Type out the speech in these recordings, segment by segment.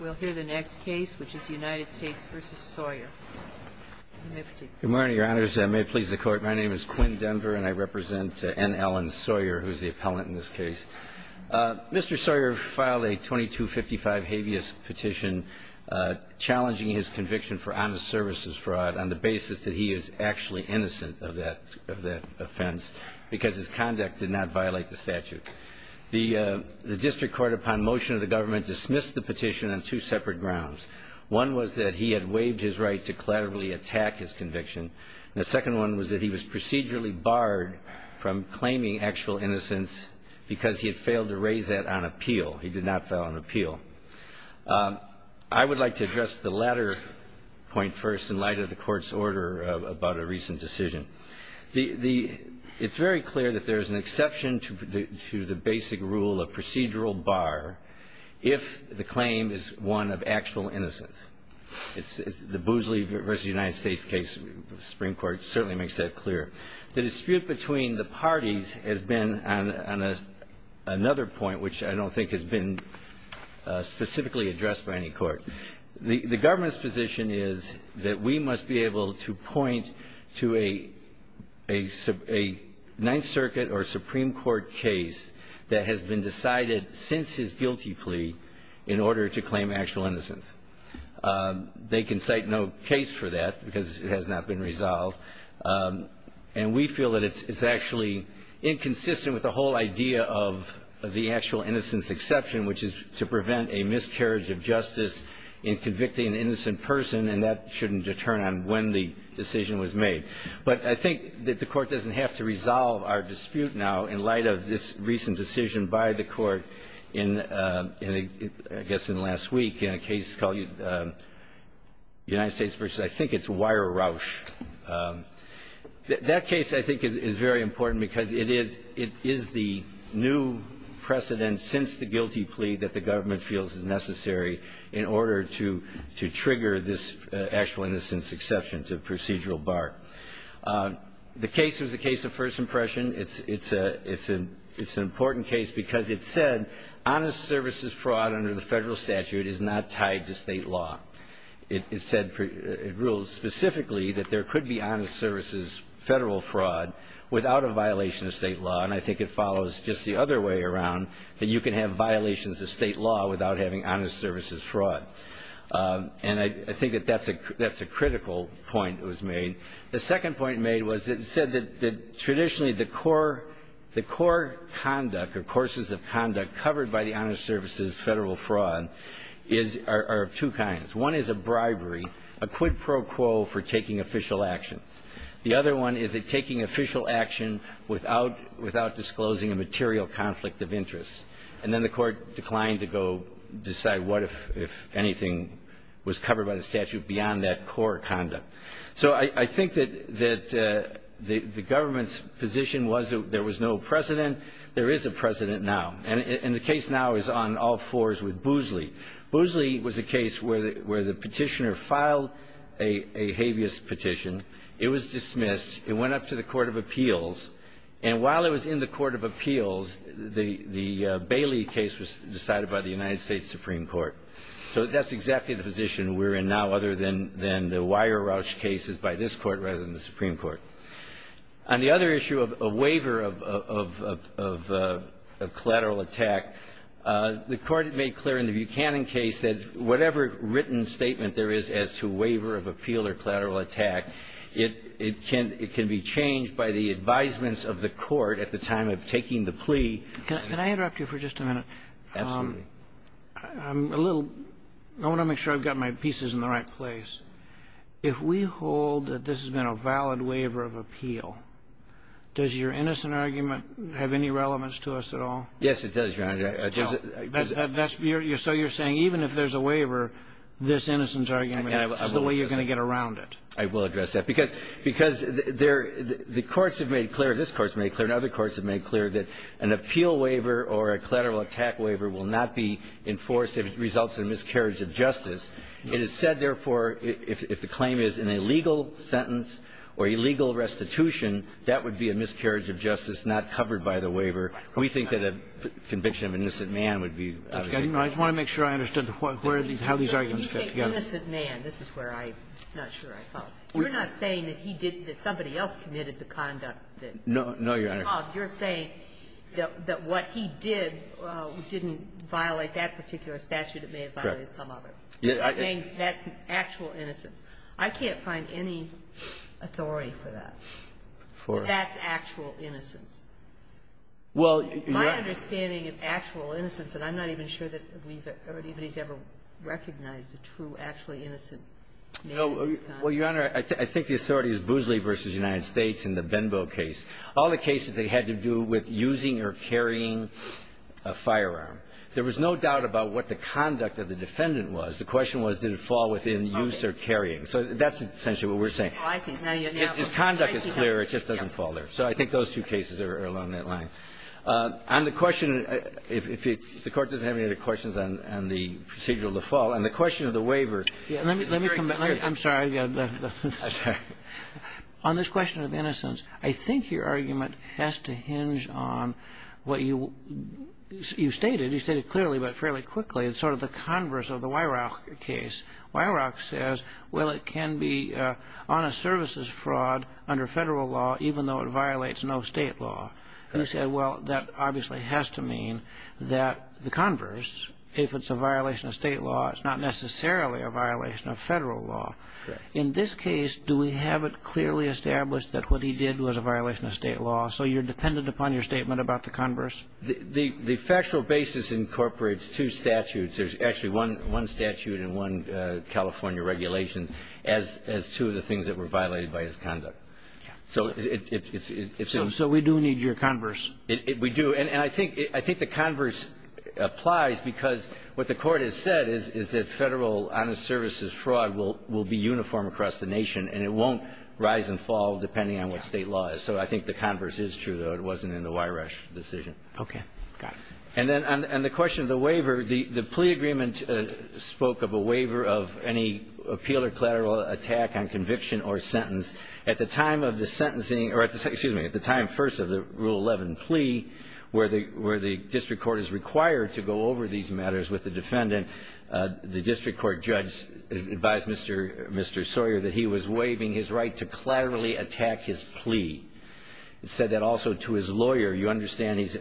Good morning, your honors. I may please the court. My name is Quinn Denver, and I represent N. Allen Sawyer, who is the appellant in this case. Mr. Sawyer filed a 2255 habeas petition challenging his conviction for honest services fraud on the basis that he is actually innocent of that offense because his conduct did not violate the statute. The district court, upon motion of the government, dismissed the petition on two separate grounds. One was that he had waived his right to collaterally attack his conviction. The second one was that he was procedurally barred from claiming actual innocence because he had failed to raise that on appeal. He did not file an appeal. I would like to address the latter point first in light of the court's order about a recent decision. It's very clear that there is an exception to the basic rule of procedural bar if the claim is one of actual innocence. The Boosley v. United States case of the Supreme Court certainly makes that clear. The dispute between the parties has been on another point, which I don't think has been specifically addressed by any court. The government's position is that we must be able to point to a Ninth Circuit or Supreme Court case that has been decided since his guilty plea in order to claim actual innocence. They can cite no case for that because it has not been resolved. And we feel that it's actually inconsistent with the whole idea of the actual innocence exception, which is to prevent a miscarriage of justice in convicting an innocent person, and that shouldn't determine when the decision was made. But I think that the court doesn't have to resolve our dispute now in light of this recent decision by the court in, I guess, last week in a case called United States v. I think it's Weier Rausch. That case, I think, is very important because it is the new precedent since the guilty plea that the government feels is necessary in order to trigger this actual innocence exception to procedural bar. The case was a case of first impression. It's an important case because it said honest services fraud under the federal statute is not tied to state law. It said it ruled specifically that there could be honest services federal fraud without a violation of state law. And I think it follows just the other way around, that you can have violations of state law without having honest services fraud. And I think that that's a critical point that was made. The second point made was it said that traditionally the core conduct or courses of conduct covered by the honest services federal fraud are of two kinds. One is a bribery, a quid pro quo for taking official action. The other one is a taking official action without disclosing a material conflict of interest. And then the court declined to go decide what if anything was covered by the statute beyond that core conduct. So I think that the government's position was there was no precedent. There is a precedent now. And the case now is on all fours with Boozley. Boozley was a case where the petitioner filed a habeas petition. It was dismissed. It went up to the Court of Appeals. And while it was in the Court of Appeals, the Bailey case was decided by the United States Supreme Court. So that's exactly the position we're in now other than the Weyer-Rausch cases by this Court rather than the Supreme Court. On the other issue of waiver of collateral attack, the Court made clear in the Buchanan case that whatever written statement there is as to waiver of appeal or collateral attack, it can be changed by the advisements of the court at the time of taking the plea. Can I interrupt you for just a minute? Absolutely. I'm a little — I want to make sure I've got my pieces in the right place. If we hold that this has been a valid waiver of appeal, does your innocent argument have any relevance to us at all? Yes, it does, Your Honor. So you're saying even if there's a waiver, this innocence argument is the way you're going to get around it? I will address that. Because the courts have made clear, this Court has made clear and other courts have made clear, that an appeal waiver or a collateral attack waiver will not be enforced if it results in a miscarriage of justice. It is said, therefore, if the claim is an illegal sentence or illegal restitution, that would be a miscarriage of justice not covered by the waiver. We think that a conviction of an innocent man would be out of the question. I just want to make sure I understood how these arguments fit together. You say innocent man. This is where I'm not sure I follow. You're not saying that he did — that somebody else committed the conduct that was involved. No, Your Honor. You're saying that what he did didn't violate that particular statute. It may have violated some other. Correct. That means that's actual innocence. I can't find any authority for that. For? That's actual innocence. Well, Your Honor — My understanding of actual innocence, and I'm not even sure that we've or anybody's ever recognized a true, actually innocent man. Well, Your Honor, I think the authority is Boosley v. United States in the Benbo case. All the cases they had to do with using or carrying a firearm. There was no doubt about what the conduct of the defendant was. The question was, did it fall within use or carrying. So that's essentially what we're saying. Oh, I see. Now you know. If his conduct is clear, it just doesn't fall there. So I think those two cases are along that line. On the question, if the Court doesn't have any other questions on the procedural default, on the question of the waiver — Let me come back. I'm sorry. I'm sorry. On this question of innocence, I think your argument has to hinge on what you stated. You stated clearly, but fairly quickly, sort of the converse of the Weirach case. Weirach says, well, it can be honest services fraud under federal law, even though it violates no state law. And you said, well, that obviously has to mean that the converse, if it's a violation of state law, it's not necessarily a violation of federal law. Right. In this case, do we have it clearly established that what he did was a violation of state law? So you're dependent upon your statement about the converse? The factual basis incorporates two statutes. There's actually one statute and one California regulation as two of the things that were violated by his conduct. So it's — So we do need your converse. We do. And I think the converse applies because what the Court has said is that federal honest services fraud will be uniform across the nation, and it won't rise and fall depending on what state law is. So I think the converse is true, though. It wasn't in the Weirach decision. Okay. Got it. And then on the question of the waiver, the plea agreement spoke of a waiver of any appeal or collateral attack on conviction or sentence. At the time of the sentencing — or, excuse me, at the time first of the Rule 11 plea, where the district court is required to go over these matters with the defendant, the district court judge advised Mr. Sawyer that he was waiving his right to collaterally attack his plea. He said that also to his lawyer. You understand he's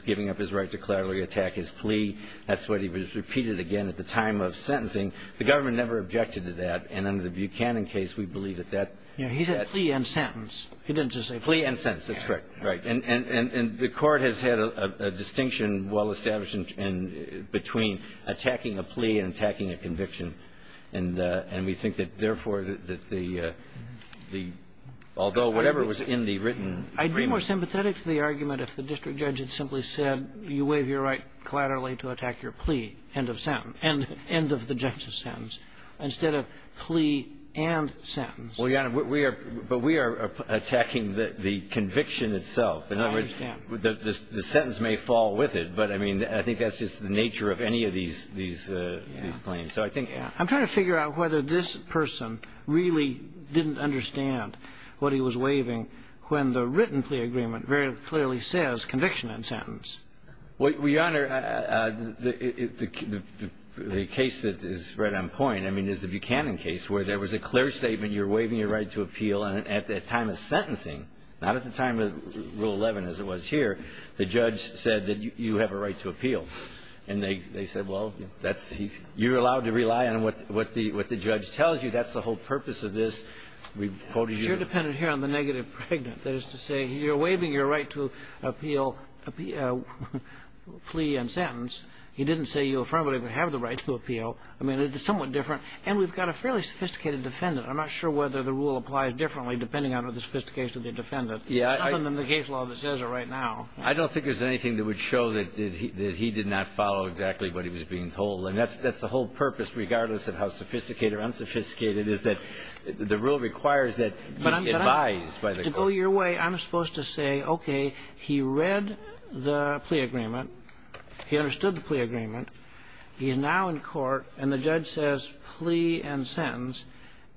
giving up his right to collaterally attack his plea. That's what he repeated again at the time of sentencing. The government never objected to that. And under the Buchanan case, we believe that that — Yeah. He said plea and sentence. He didn't just say — Plea and sentence. That's correct. Right. And the Court has had a distinction well established between attacking a plea and attacking a conviction, and we think that, therefore, that the — although whatever was in the written agreement — I'd be more sympathetic to the argument if the district judge had simply said, you waive your right collaterally to attack your plea, end of sentence — end of the justice sentence, instead of plea and sentence. Well, Your Honor, we are — but we are attacking the conviction itself. In other words, the sentence may fall with it, but, I mean, I think that's just the nature of any of these — these claims. So I think — I'm trying to figure out whether this person really didn't understand what he was waiving when the written plea agreement very clearly says conviction and sentence. Well, Your Honor, the case that is right on point, I mean, is the Buchanan case where there was a clear statement, you're waiving your right to appeal. And at the time of sentencing, not at the time of Rule 11 as it was here, the judge said that you have a right to appeal. And they said, well, that's — you're allowed to rely on what the judge tells you. That's the whole purpose of this. We quoted you — But you're dependent here on the negative pregnant. That is to say, you're waiving your right to appeal — plea and sentence. He didn't say you affirmably have the right to appeal. I mean, it's somewhat different. And we've got a fairly sophisticated defendant. I'm not sure whether the rule applies differently depending on the sophistication of the defendant. Yeah, I — It's nothing in the case law that says it right now. I don't think there's anything that would show that he did not follow exactly what he was being told. And that's the whole purpose, regardless of how sophisticated or unsophisticated, is that the rule requires that you be advised by the court. But to go your way, I'm supposed to say, okay, he read the plea agreement. He understood the plea agreement. He is now in court. And the judge says plea and sentence.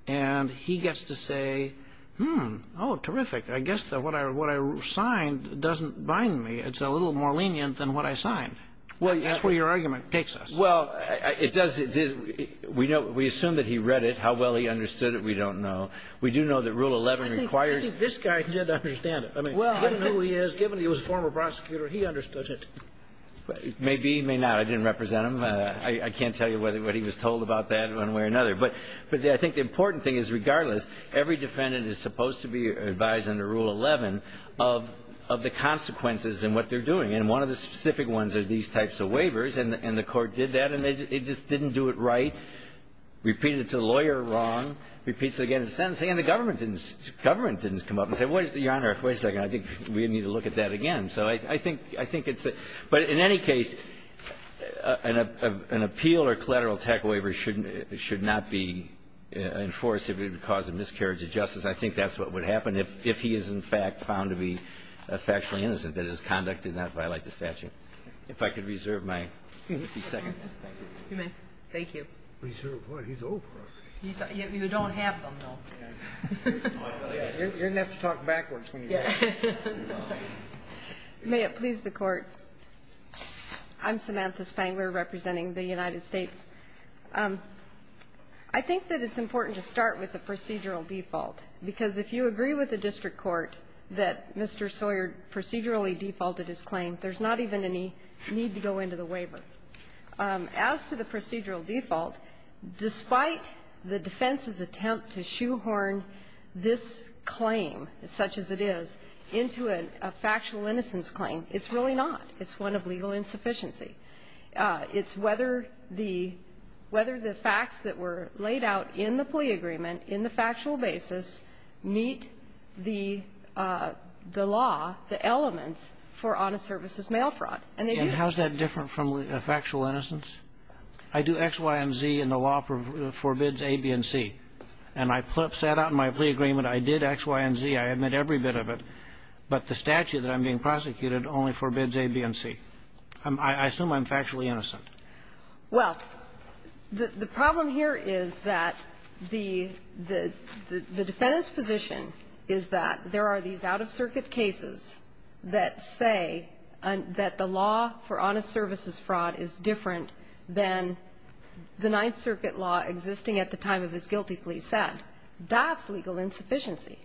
And he gets to say, hmm, oh, terrific. I guess what I signed doesn't bind me. It's a little more lenient than what I signed. That's where your argument takes us. Well, it does — we assume that he read it. How well he understood it, we don't know. We do know that Rule 11 requires — I think this guy did understand it. I mean, given who he is, given he was a former prosecutor, he understood it. May be, may not. I didn't represent him. I can't tell you what he was told about that one way or another. But I think the important thing is, regardless, every defendant is supposed to be advised under Rule 11 of the consequences and what they're doing. And one of the specific ones are these types of waivers. And the court did that, and it just didn't do it right, repeated it to the lawyer wrong, repeats it again in the sentence. And the government didn't — the government didn't come up and say, Your Honor, wait a second, I think we need to look at that again. So I think — I think it's a — but in any case, an appeal or collateral attack waiver should not be enforced if it would cause a miscarriage of justice. I think that's what would happen if he is, in fact, found to be factually innocent, that his conduct did not violate the statute. If I could reserve my second. You may. Thank you. Reserve what? He's Oprah. You don't have them, though. You're going to have to talk backwards when you do that. May it please the Court. I'm Samantha Spangler representing the United States. I think that it's important to start with the procedural default, because if you agree with the district court that Mr. Sawyer procedurally defaulted his claim, there's not even a need to go into the waiver. As to the procedural default, despite the defense's attempt to shoehorn this claim such as it is into a factual innocence claim, it's really not. It's one of legal insufficiency. It's whether the facts that were laid out in the plea agreement in the factual basis meet the law, the elements for honest services mail fraud. And how is that different from factual innocence? I do X, Y, and Z, and the law forbids A, B, and C. And I sat out in my plea agreement. I did X, Y, and Z. I admit every bit of it. But the statute that I'm being prosecuted only forbids A, B, and C. I assume I'm factually innocent. Well, the problem here is that the defendant's position is that there are these out-of-circuit cases that say that the law for honest services fraud is different than the Ninth Circuit law existing at the time of his guilty plea said. That's legal insufficiency.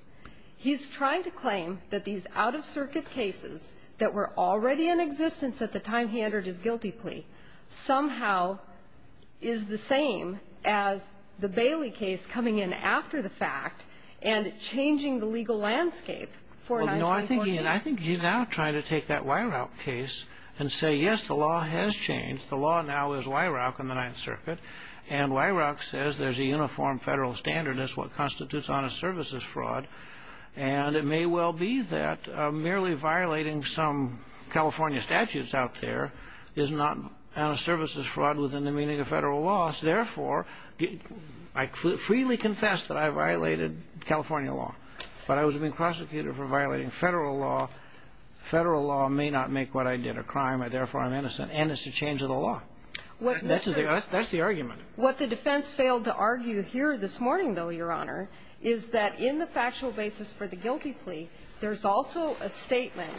He's trying to claim that these out-of-circuit cases that were already in existence at the time he entered his guilty plea somehow is the same as the Bailey case coming in after the fact and changing the legal landscape. I think he's now trying to take that Weirauch case and say, yes, the law has changed. The law now is Weirauch in the Ninth Circuit. And Weirauch says there's a uniform federal standard as to what constitutes honest services fraud. And it may well be that merely violating some California statutes out there is not honest services fraud within the meaning of federal laws. Therefore, I freely confess that I violated California law. But I was being prosecuted for violating federal law. Federal law may not make what I did a crime. Therefore, I'm innocent. And it's a change of the law. That's the argument. What the defense failed to argue here this morning, though, Your Honor, is that in the factual basis for the guilty plea, there's also a statement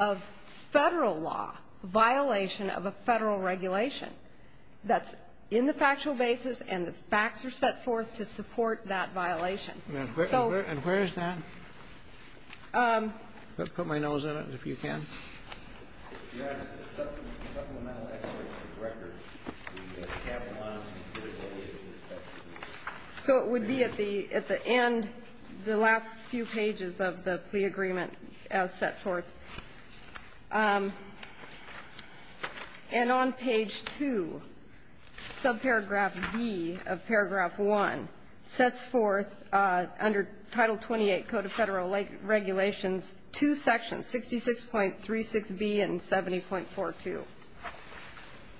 of federal law violation of a federal regulation. That's in the factual basis. And the facts are set forth to support that violation. And where is that? Put my nose in it, if you can. Your Honor, it's in the supplemental record. So it would be at the end, the last few pages of the plea agreement as set forth. And on page 2, subparagraph B of paragraph 1, sets forth under Title 28, Code of Federal Regulations, two sections, 66.36B and 70.42.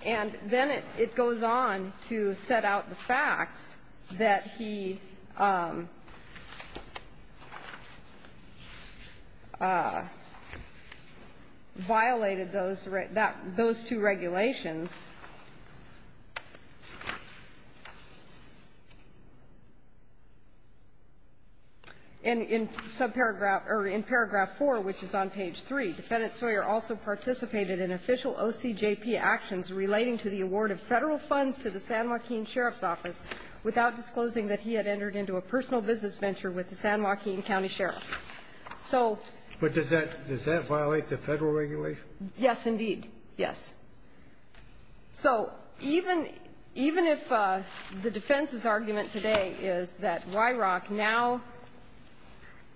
And then it goes on to set out the facts that he violated those two regulations. And in subparagraph or in paragraph 4, which is on page 3, Defendant Sawyer also participated in official OCJP actions relating to the award of federal funds to the San Joaquin Sheriff's Office without disclosing that he had entered into a personal business venture with the San Joaquin County Sheriff. So ---- But does that violate the federal regulation? Yes, indeed. Yes. So even if the defense's argument today is that WIROC now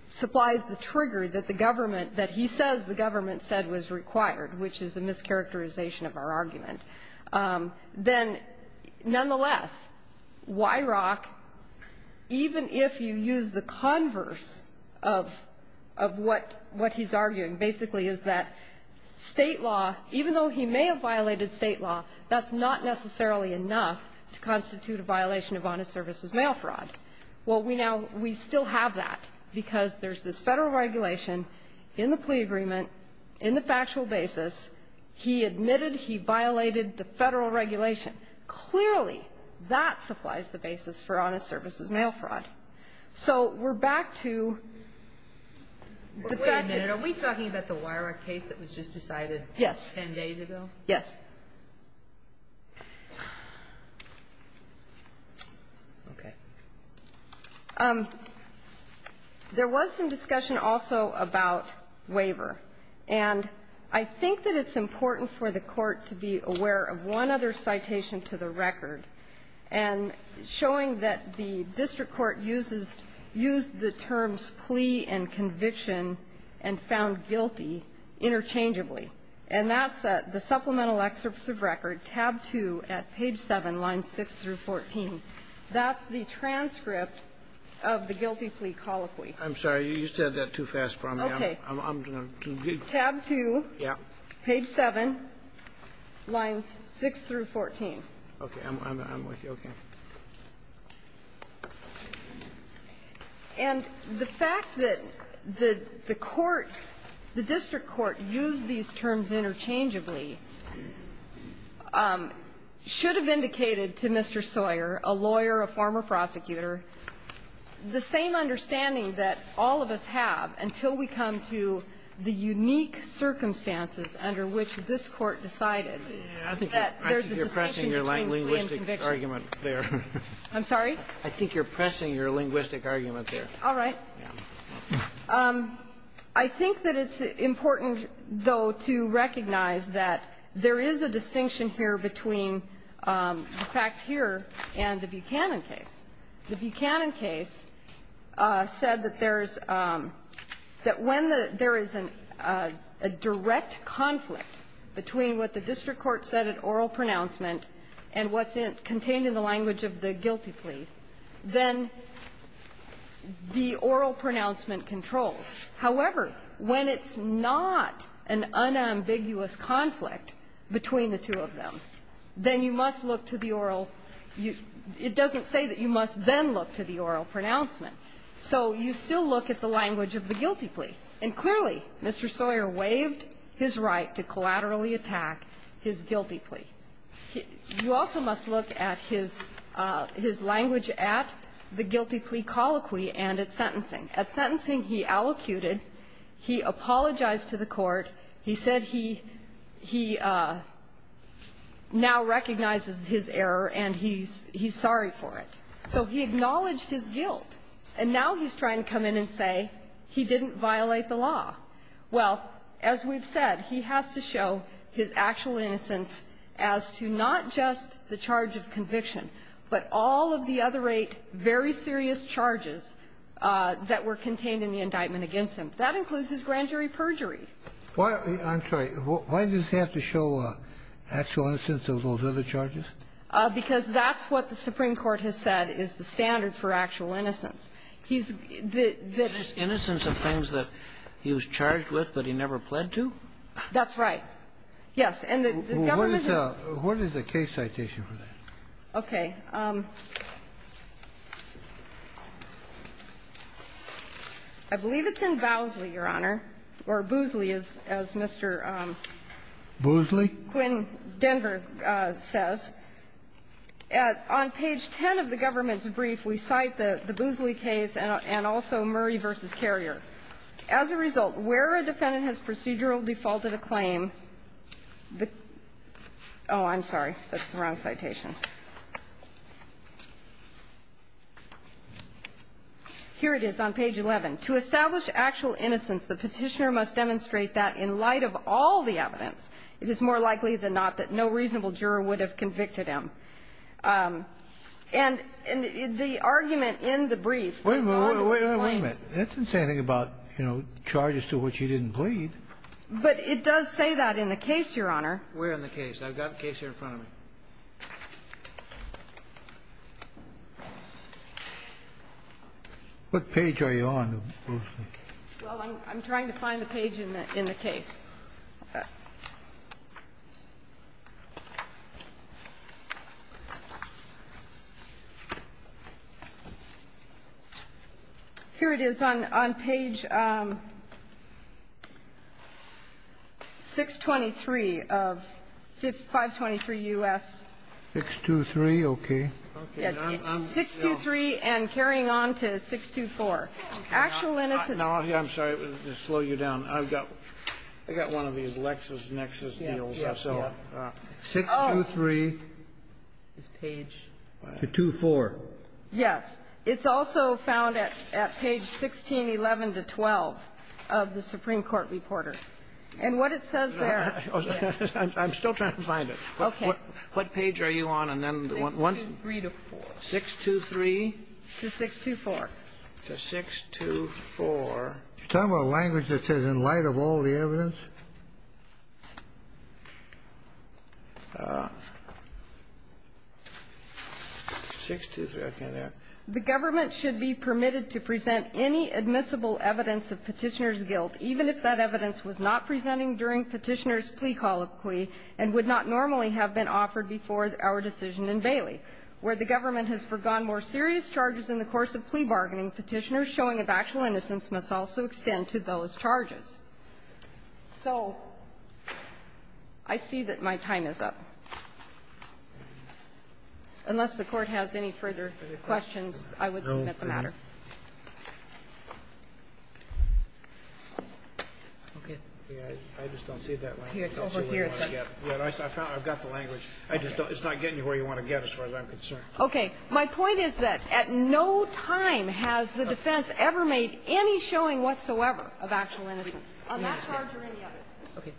supplies the trigger that the government, that he says the government said was required, which is a mischaracterization of our argument, then, nonetheless, WIROC, even if you use the converse of what he's arguing, basically is that State law, even though he may have violated State law, that's not necessarily enough to constitute a violation of honest services mail fraud. Well, we now we still have that because there's this federal regulation in the plea agreement. In the factual basis, he admitted he violated the federal regulation. Clearly, that supplies the basis for honest services mail fraud. So we're back to the fact that ---- Wait a minute. Are we talking about the WIROC case that was just decided 10 days ago? Yes. Yes. Okay. There was some discussion also about waiver. And I think that it's important for the Court to be aware of one other citation to the record, and showing that the district court uses the terms plea and conviction and found guilty interchangeably. And that's the supplemental excerpts of record, tab 2 at page 7, lines 6 through 14. That's the transcript of the guilty plea colloquy. I'm sorry. You said that too fast for me. Okay. I'm going to be ---- Tab 2. Yeah. Page 7, lines 6 through 14. Okay. I'm with you. Okay. And the fact that the court, the district court, used these terms interchangeably should have indicated to Mr. Sawyer, a lawyer, a former prosecutor, the same understanding that all of us have until we come to the unique circumstances under which this court decided that there's a distinction between plea and conviction. I think you're pressing your linguistic argument there. I'm sorry? I think you're pressing your linguistic argument there. All right. I think that it's important, though, to recognize that there is a distinction here between the facts here and the Buchanan case. The Buchanan case said that there's ---- that when there is a direct conflict between what the district court said at oral pronouncement and what's contained in the language of the guilty plea, then the oral pronouncement controls. However, when it's not an unambiguous conflict between the two of them, then you must look to the oral ---- it doesn't say that you must then look to the oral pronouncement. So you still look at the language of the guilty plea. And clearly, Mr. Sawyer waived his right to collaterally attack his guilty plea. You also must look at his language at the guilty plea colloquy and at sentencing. At sentencing, he allocuted. He apologized to the court. He said he now recognizes his error and he's sorry for it. So he acknowledged his guilt. And now he's trying to come in and say he didn't violate the law. Well, as we've said, he has to show his actual innocence as to not just the charge of conviction, but all of the other eight very serious charges that were contained in the indictment against him. That includes his grand jury perjury. Why does he have to show actual innocence of those other charges? Because that's what the Supreme Court has said is the standard for actual innocence. He's the --- The innocence of things that he was charged with but he never pled to? That's right. And the government is --- What is the case citation for that? Okay. I believe it's in Bowsley, Your Honor, or Boozley, as Mr. Quinn Denver says. On page 10 of the government's brief we cite the Boozley case and also Murray v. Carrier. As a result, where a defendant has procedural defaulted a claim, the --- oh, I'm sorry. That's the wrong citation. Here it is on page 11. To establish actual innocence, the Petitioner must demonstrate that in light of all the evidence, it is more likely than not that no reasonable juror would have convicted him. And the argument in the brief--- Wait a minute. Wait a minute. That's the same thing about, you know, charges to which he didn't plead. But it does say that in the case, Your Honor. Where in the case? I've got the case here in front of me. What page are you on, Boozley? Well, I'm trying to find the page in the case. Okay. Here it is on page 623 of 523 U.S. 623, okay. 623 and carrying on to 624. Actual innocence --- I'm sorry to slow you down. I've got one of these LexisNexis deals. 623 to 2-4. Yes. It's also found at page 1611 to 12 of the Supreme Court Reporter. And what it says there ---- I'm still trying to find it. Okay. What page are you on? And then the one ---- 623 to 4. 623 to 624. 623 to 624. Can you tell me a language that says in light of all the evidence? 623. The government should be permitted to present any admissible evidence of petitioner's guilt, even if that evidence was not presenting during petitioner's plea colloquy and would not normally have been offered before our decision in Bailey, where the government has forgone more serious charges in the course of plea bargaining. Petitioner's showing of actual innocence must also extend to those charges. So I see that my time is up. Unless the Court has any further questions, I would submit the matter. Okay. I just don't see that one. It's over here. I've got the language. It's not getting you where you want to get as far as I'm concerned. Okay. My point is that at no time has the defense ever made any showing whatsoever of actual innocence on that charge or any other. Okay.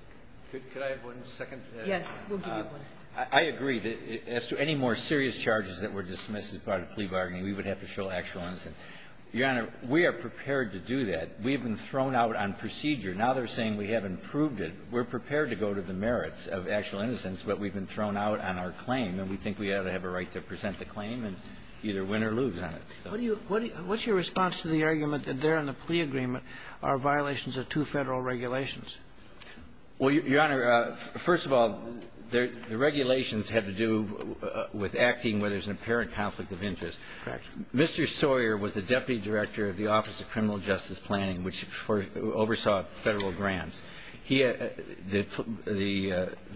Could I have one second? Yes. We'll give you one. I agree. As to any more serious charges that were dismissed as part of plea bargaining, we would have to show actual innocence. Your Honor, we are prepared to do that. We have been thrown out on procedure. Now they're saying we haven't proved it. We're prepared to go to the merits of actual innocence, but we've been thrown out on our claim, and we think we ought to have a right to present the claim and either win or lose on it. What's your response to the argument that there in the plea agreement are violations of two Federal regulations? Well, Your Honor, first of all, the regulations have to do with acting where there's an apparent conflict of interest. Correct. Mr. Sawyer was the deputy director of the Office of Criminal Justice Planning, which oversaw Federal grants. The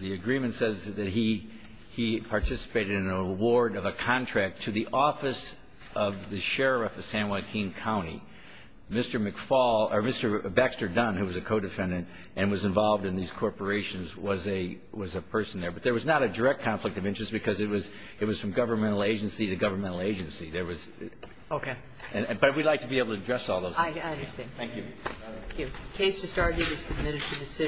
agreement says that he participated in an award of a contract to the office of the sheriff of San Joaquin County. Mr. McFaul or Mr. Baxter Dunn, who was a co-defendant and was involved in these corporations, was a person there. But there was not a direct conflict of interest because it was from governmental agency to governmental agency. There was. Okay. But we'd like to be able to address all those. I understand. Thank you. Thank you. The case just argued is submitted for decision.